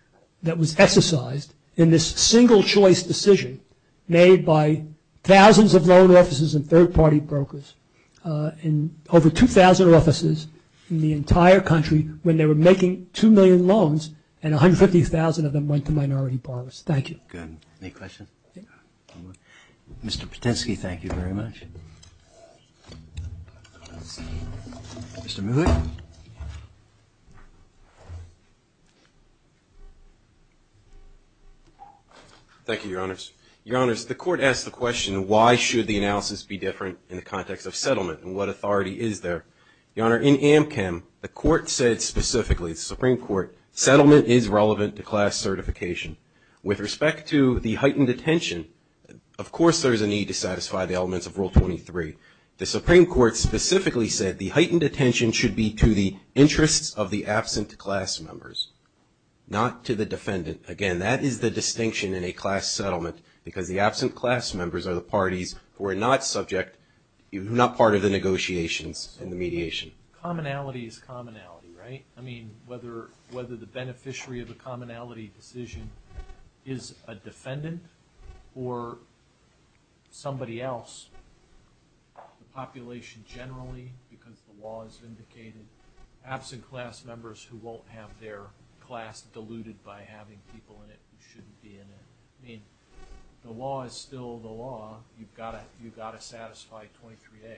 that was exercised in this single-choice decision made by thousands of loan officers and third-party brokers in over 2,000 offices in the entire country when they were making 2 million loans and 150,000 of them went to minority borrowers. Thank you. Good. Any questions? Mr. Potensky, thank you very much. Mr. Mouhit. Thank you, Your Honors. Your Honors, the Court asked the question, why should the analysis be different in the context of settlement and what authority is there? Your Honor, in AMCM, the Court said specifically, the Supreme Court, settlement is relevant to class certification. With respect to the heightened attention, of course there is a need to satisfy the elements of Rule 23. The Supreme Court specifically said the heightened attention should be to the interests of the absent class members, not to the defendant. Again, that is the distinction in a class settlement, because the absent class members are the parties who are not subject, who are not part of the negotiations and the mediation. Commonality is commonality, right? I mean, whether the beneficiary of the commonality decision is a defendant or somebody else, the population generally, because the law has indicated, absent class members who won't have their class diluted by having people in it who shouldn't be in it. I mean, the law is still the law. You've got to satisfy 23A.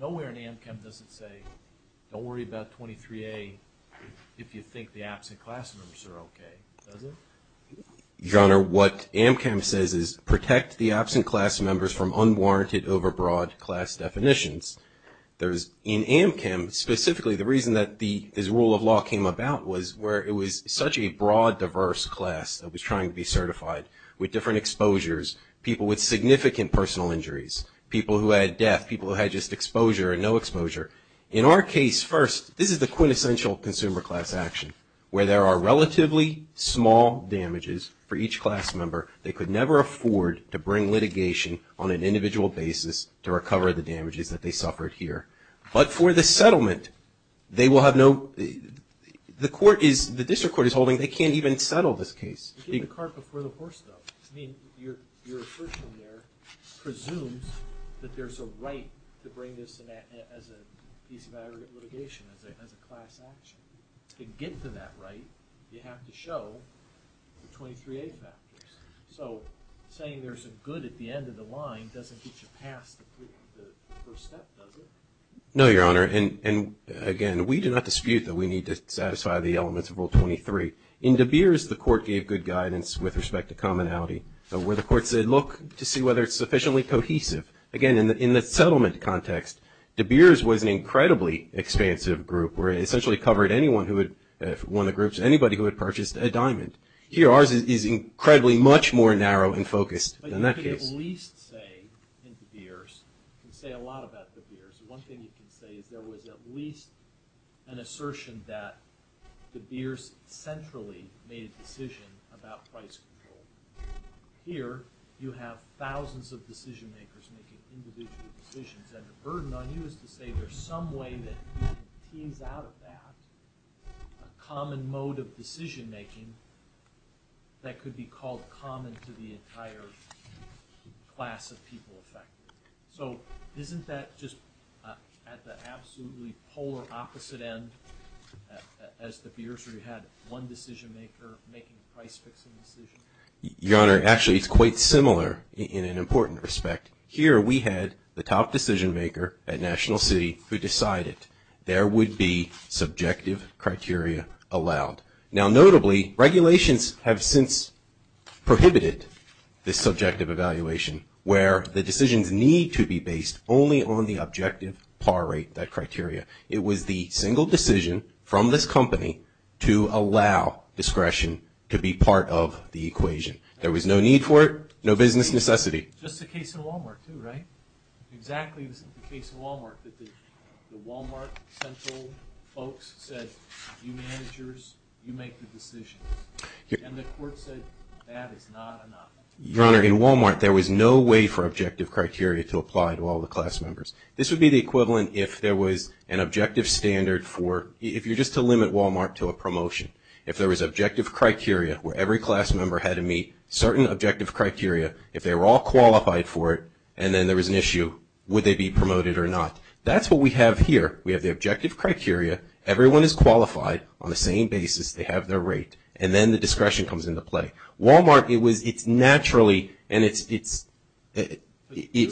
Nowhere in AMCM does it say, don't worry about 23A if you think the absent class members are okay. Does it? Your Honor, what AMCM says is, protect the absent class members from unwarranted overbroad class definitions. In AMCM, specifically, the reason that this rule of law came about was where it was such a broad, diverse class that was trying to be certified with different exposures, people with significant personal injuries, people who had death, people who had just exposure and no exposure. In our case, first, this is the quintessential consumer class action, where there are relatively small damages for each class member. They could never afford to bring litigation on an individual basis to recover the damages that they suffered here. But for the settlement, they will have no – the court is – the district court is holding they can't even settle this case. You get the cart before the horse, though. I mean, your assertion there presumes that there's a right to bring this as a piece of aggregate litigation, as a class action. To get to that right, you have to show the 23A factors. So saying there's a good at the end of the line doesn't get you past the first step, does it? No, Your Honor, and again, we do not dispute that we need to satisfy the elements of Rule 23. In De Beers, the court gave good guidance with respect to commonality, where the court said, look to see whether it's sufficiently cohesive. Again, in the settlement context, De Beers was an incredibly expansive group, where it essentially covered anyone who had – one of the groups, anybody who had purchased a diamond. Here, ours is incredibly much more narrow and focused than that case. But you can at least say, in De Beers, you can say a lot about De Beers. One thing you can say is there was at least an assertion that De Beers centrally made a decision about price control. Here, you have thousands of decision-makers making individual decisions, and the burden on you is to say there's some way that you can tease out of that a common mode of decision-making that could be called common to the entire class of people affected. So isn't that just at the absolutely polar opposite end as De Beers, where you had one decision-maker making a price-fixing decision? Your Honor, actually, it's quite similar in an important respect. Here, we had the top decision-maker at National City who decided there would be subjective criteria allowed. Now, notably, regulations have since prohibited this subjective evaluation, where the decisions need to be based only on the objective par rate, that criteria. It was the single decision from this company to allow discretion to be part of the equation. There was no need for it, no business necessity. Just the case in Wal-Mart, too, right? Exactly the case in Wal-Mart that the Wal-Mart central folks said, you managers, you make the decisions. And the court said that is not enough. Your Honor, in Wal-Mart, there was no way for objective criteria to apply to all the class members. This would be the equivalent if there was an objective standard for, if you're just to limit Wal-Mart to a promotion. If there was objective criteria where every class member had to meet certain objective criteria, if they were all qualified for it, and then there was an issue, would they be promoted or not? That's what we have here. We have the objective criteria. Everyone is qualified on the same basis. They have their rate. And then the discretion comes into play. Wal-Mart, it's naturally and it's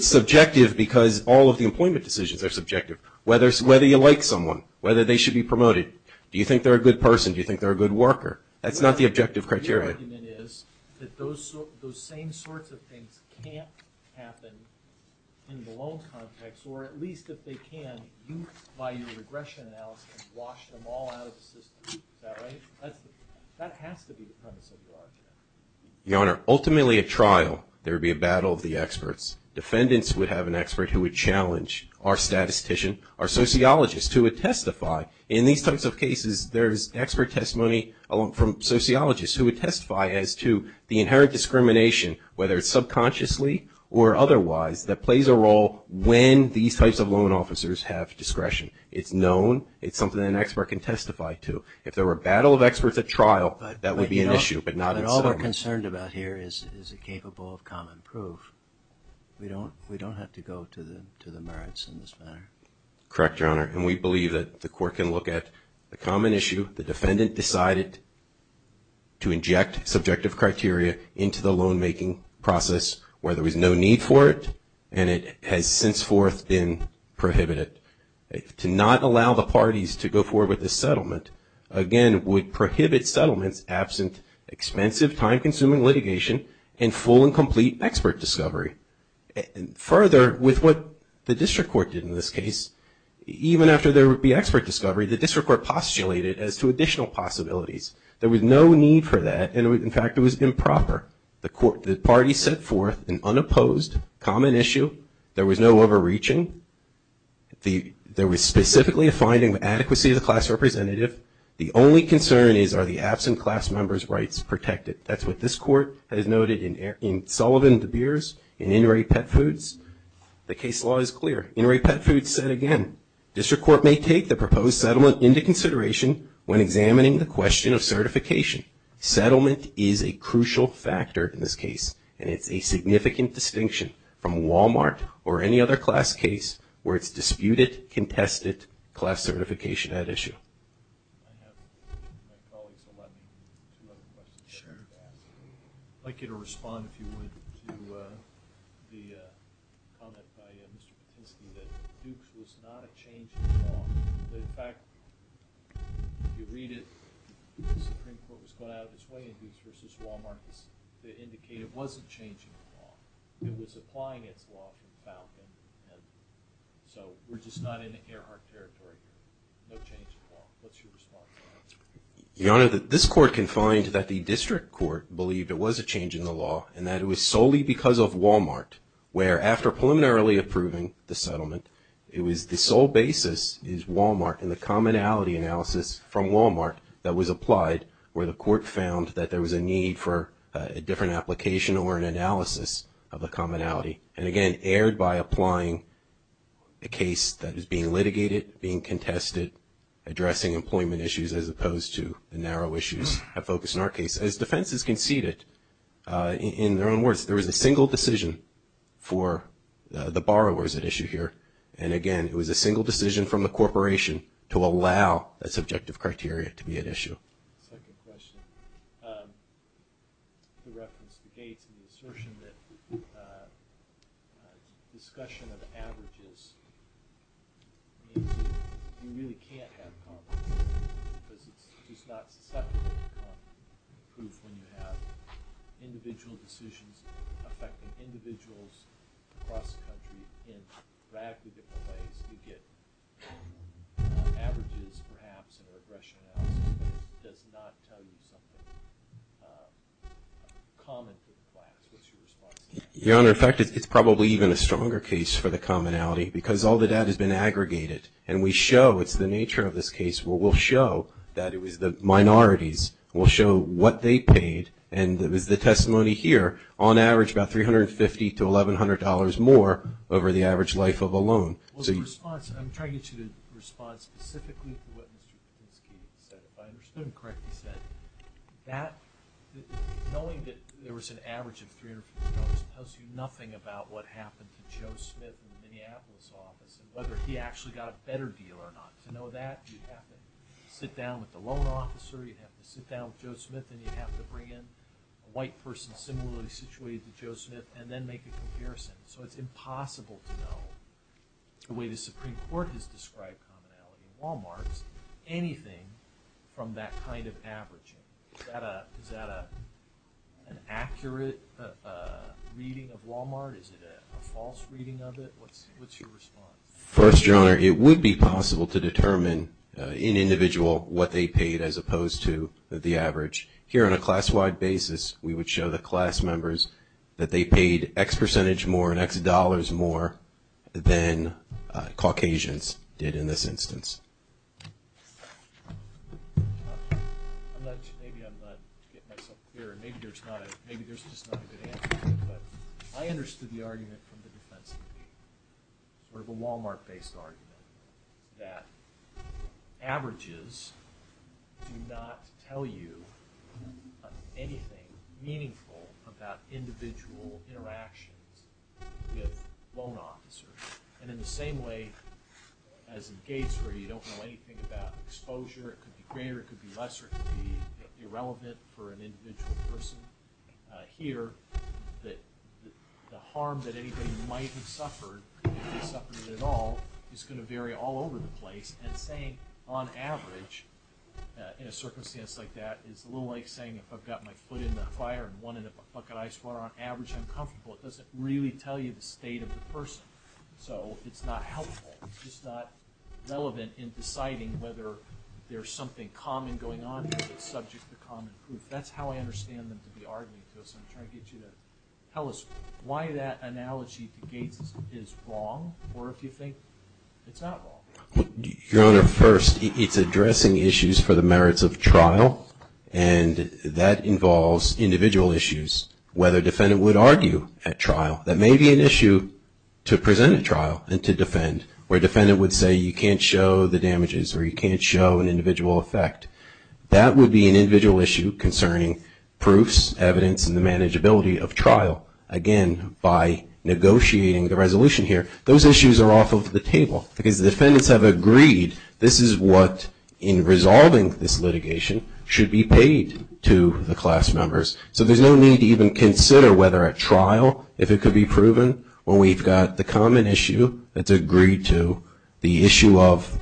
subjective because all of the employment decisions are subjective, whether you like someone, whether they should be promoted. Do you think they're a good person? Do you think they're a good worker? That's not the objective criteria. Your argument is that those same sorts of things can't happen in the loan context, or at least if they can, you, by your regression analysis, wash them all out of the system. Is that right? That has to be the premise of your argument. Your Honor, ultimately at trial, there would be a battle of the experts. Defendants would have an expert who would challenge our statistician, our sociologist, who would testify. In these types of cases, there's expert testimony from sociologists who would testify as to the inherent discrimination, whether it's subconsciously or otherwise, that plays a role when these types of loan officers have discretion. It's known. It's something that an expert can testify to. If there were a battle of experts at trial, that would be an issue, but not in settlement. But all we're concerned about here is is it capable of common proof. We don't have to go to the merits in this matter. Correct, Your Honor. And we believe that the court can look at the common issue. The defendant decided to inject subjective criteria into the loan-making process where there was no need for it, and it has since forth been prohibited. To not allow the parties to go forward with this settlement, again, would prohibit settlements absent expensive, time-consuming litigation and full and complete expert discovery. Further, with what the district court did in this case, even after there would be expert discovery, the district court postulated as to additional possibilities. There was no need for that, and, in fact, it was improper. The parties set forth an unopposed common issue. There was no overreaching. There was specifically a finding of adequacy of the class representative. The only concern is, are the absent class members' rights protected? That's what this court has noted in Sullivan-DeBeers, in Inouye Pet Foods. The case law is clear. Inouye Pet Foods said, again, district court may take the proposed settlement into consideration when examining the question of certification. Settlement is a crucial factor in this case, and it's a significant distinction from Walmart or any other class case where it's disputed, contested, class certification at issue. I have my colleagues allow me two other questions. Sure. I'd like you to respond, if you would, to the comment by Mr. Patinsky that Dukes was not a change in the law. In fact, if you read it, the Supreme Court was going out of its way in Dukes v. Walmart to indicate it wasn't changing the law. It was applying its law to Falcon, and so we're just not in the Earhart territory. No change in the law. What's your response to that? Your Honor, this court can find that the district court believed it was a change in the law and that it was solely because of Walmart, where after preliminarily approving the settlement, the sole basis is Walmart and the commonality analysis from Walmart that was applied where the court found that there was a need for a different application or an analysis of the commonality, and again erred by applying a case that is being litigated, being contested, addressing employment issues as opposed to the narrow issues of focus in our case. As defense has conceded in their own words, there was a single decision for the borrowers at issue here, and again, it was a single decision from the corporation to allow that subjective criteria to be at issue. Second question. The reference to Gates and the assertion that discussion of averages means you really can't have confidence because it's just not susceptible to confidence when you have individual decisions affecting individuals across the country in radically different ways. You get averages perhaps and a regression analysis, but it does not tell you something common to the class. What's your response to that? Your Honor, in fact, it's probably even a stronger case for the commonality because all the data has been aggregated, and we show, it's the nature of this case, we'll show that it was the minorities, we'll show what they paid, and it was the testimony here, on average about $350 to $1,100 more over the average life of a loan. Well, the response, and I'm trying to get you to respond specifically to what Mr. Patinsky said. If I understood him correctly, he said that knowing that there was an average of $350 tells you nothing about what happened to Joe Smith in the Minneapolis office and whether he actually got a better deal or not. To know that, you'd have to sit down with the loan officer, you'd have to sit down with Joe Smith, and you'd have to bring in a white person similarly situated to Joe Smith and then make a comparison. So it's impossible to know, the way the Supreme Court has described commonality in Walmart, anything from that kind of averaging. Is that an accurate reading of Walmart? Is it a false reading of it? What's your response? First, Your Honor, it would be possible to determine in individual what they paid as opposed to the average. Here on a class-wide basis, we would show the class members that they paid X percentage more and X dollars more than Caucasians did in this instance. Maybe I'm not getting myself clear. Maybe there's just not a good answer to that. But I understood the argument from the defense committee, sort of a Walmart-based argument, that averages do not tell you anything meaningful about individual interactions with loan officers. And in the same way as in Gates where you don't know anything about exposure, it could be greater, it could be lesser, it could be irrelevant for an individual person, here the harm that anybody might have suffered, if they suffered it at all, is going to vary all over the place. And saying, on average, in a circumstance like that, is a little like saying if I've got my foot in a fire and one in a bucket of ice water, on average I'm comfortable. It doesn't really tell you the state of the person. So it's not helpful. It's just not relevant in deciding whether there's something common going on here that's subject to common proof. That's how I understand them to be arguing to us. I'm trying to get you to tell us why that analogy to Gates is wrong, or if you think it's not wrong. Your Honor, first, it's addressing issues for the merits of trial. And that involves individual issues, whether a defendant would argue at trial. That may be an issue to present at trial and to defend, where a defendant would say you can't show the damages or you can't show an individual effect. That would be an individual issue concerning proofs, evidence, and the manageability of trial. Again, by negotiating the resolution here, those issues are off of the table. Because the defendants have agreed this is what, in resolving this litigation, should be paid to the class members. So there's no need to even consider whether at trial, if it could be proven, when we've got the common issue that's agreed to, the issue of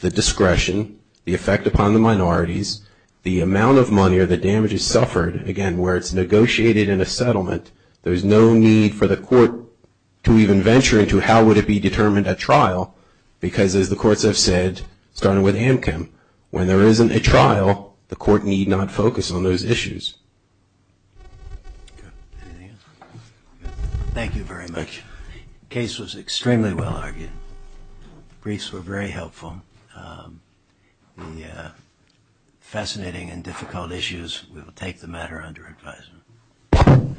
the discretion, the effect upon the minorities, the amount of money or the damages suffered, again, where it's negotiated in a settlement, there's no need for the court to even venture into how would it be determined at trial. Because as the courts have said, starting with AMCM, when there isn't a trial, the court need not focus on those issues. Anything else? Thank you very much. The case was extremely well argued. The briefs were very helpful. The fascinating and difficult issues, we will take the matter under advisement.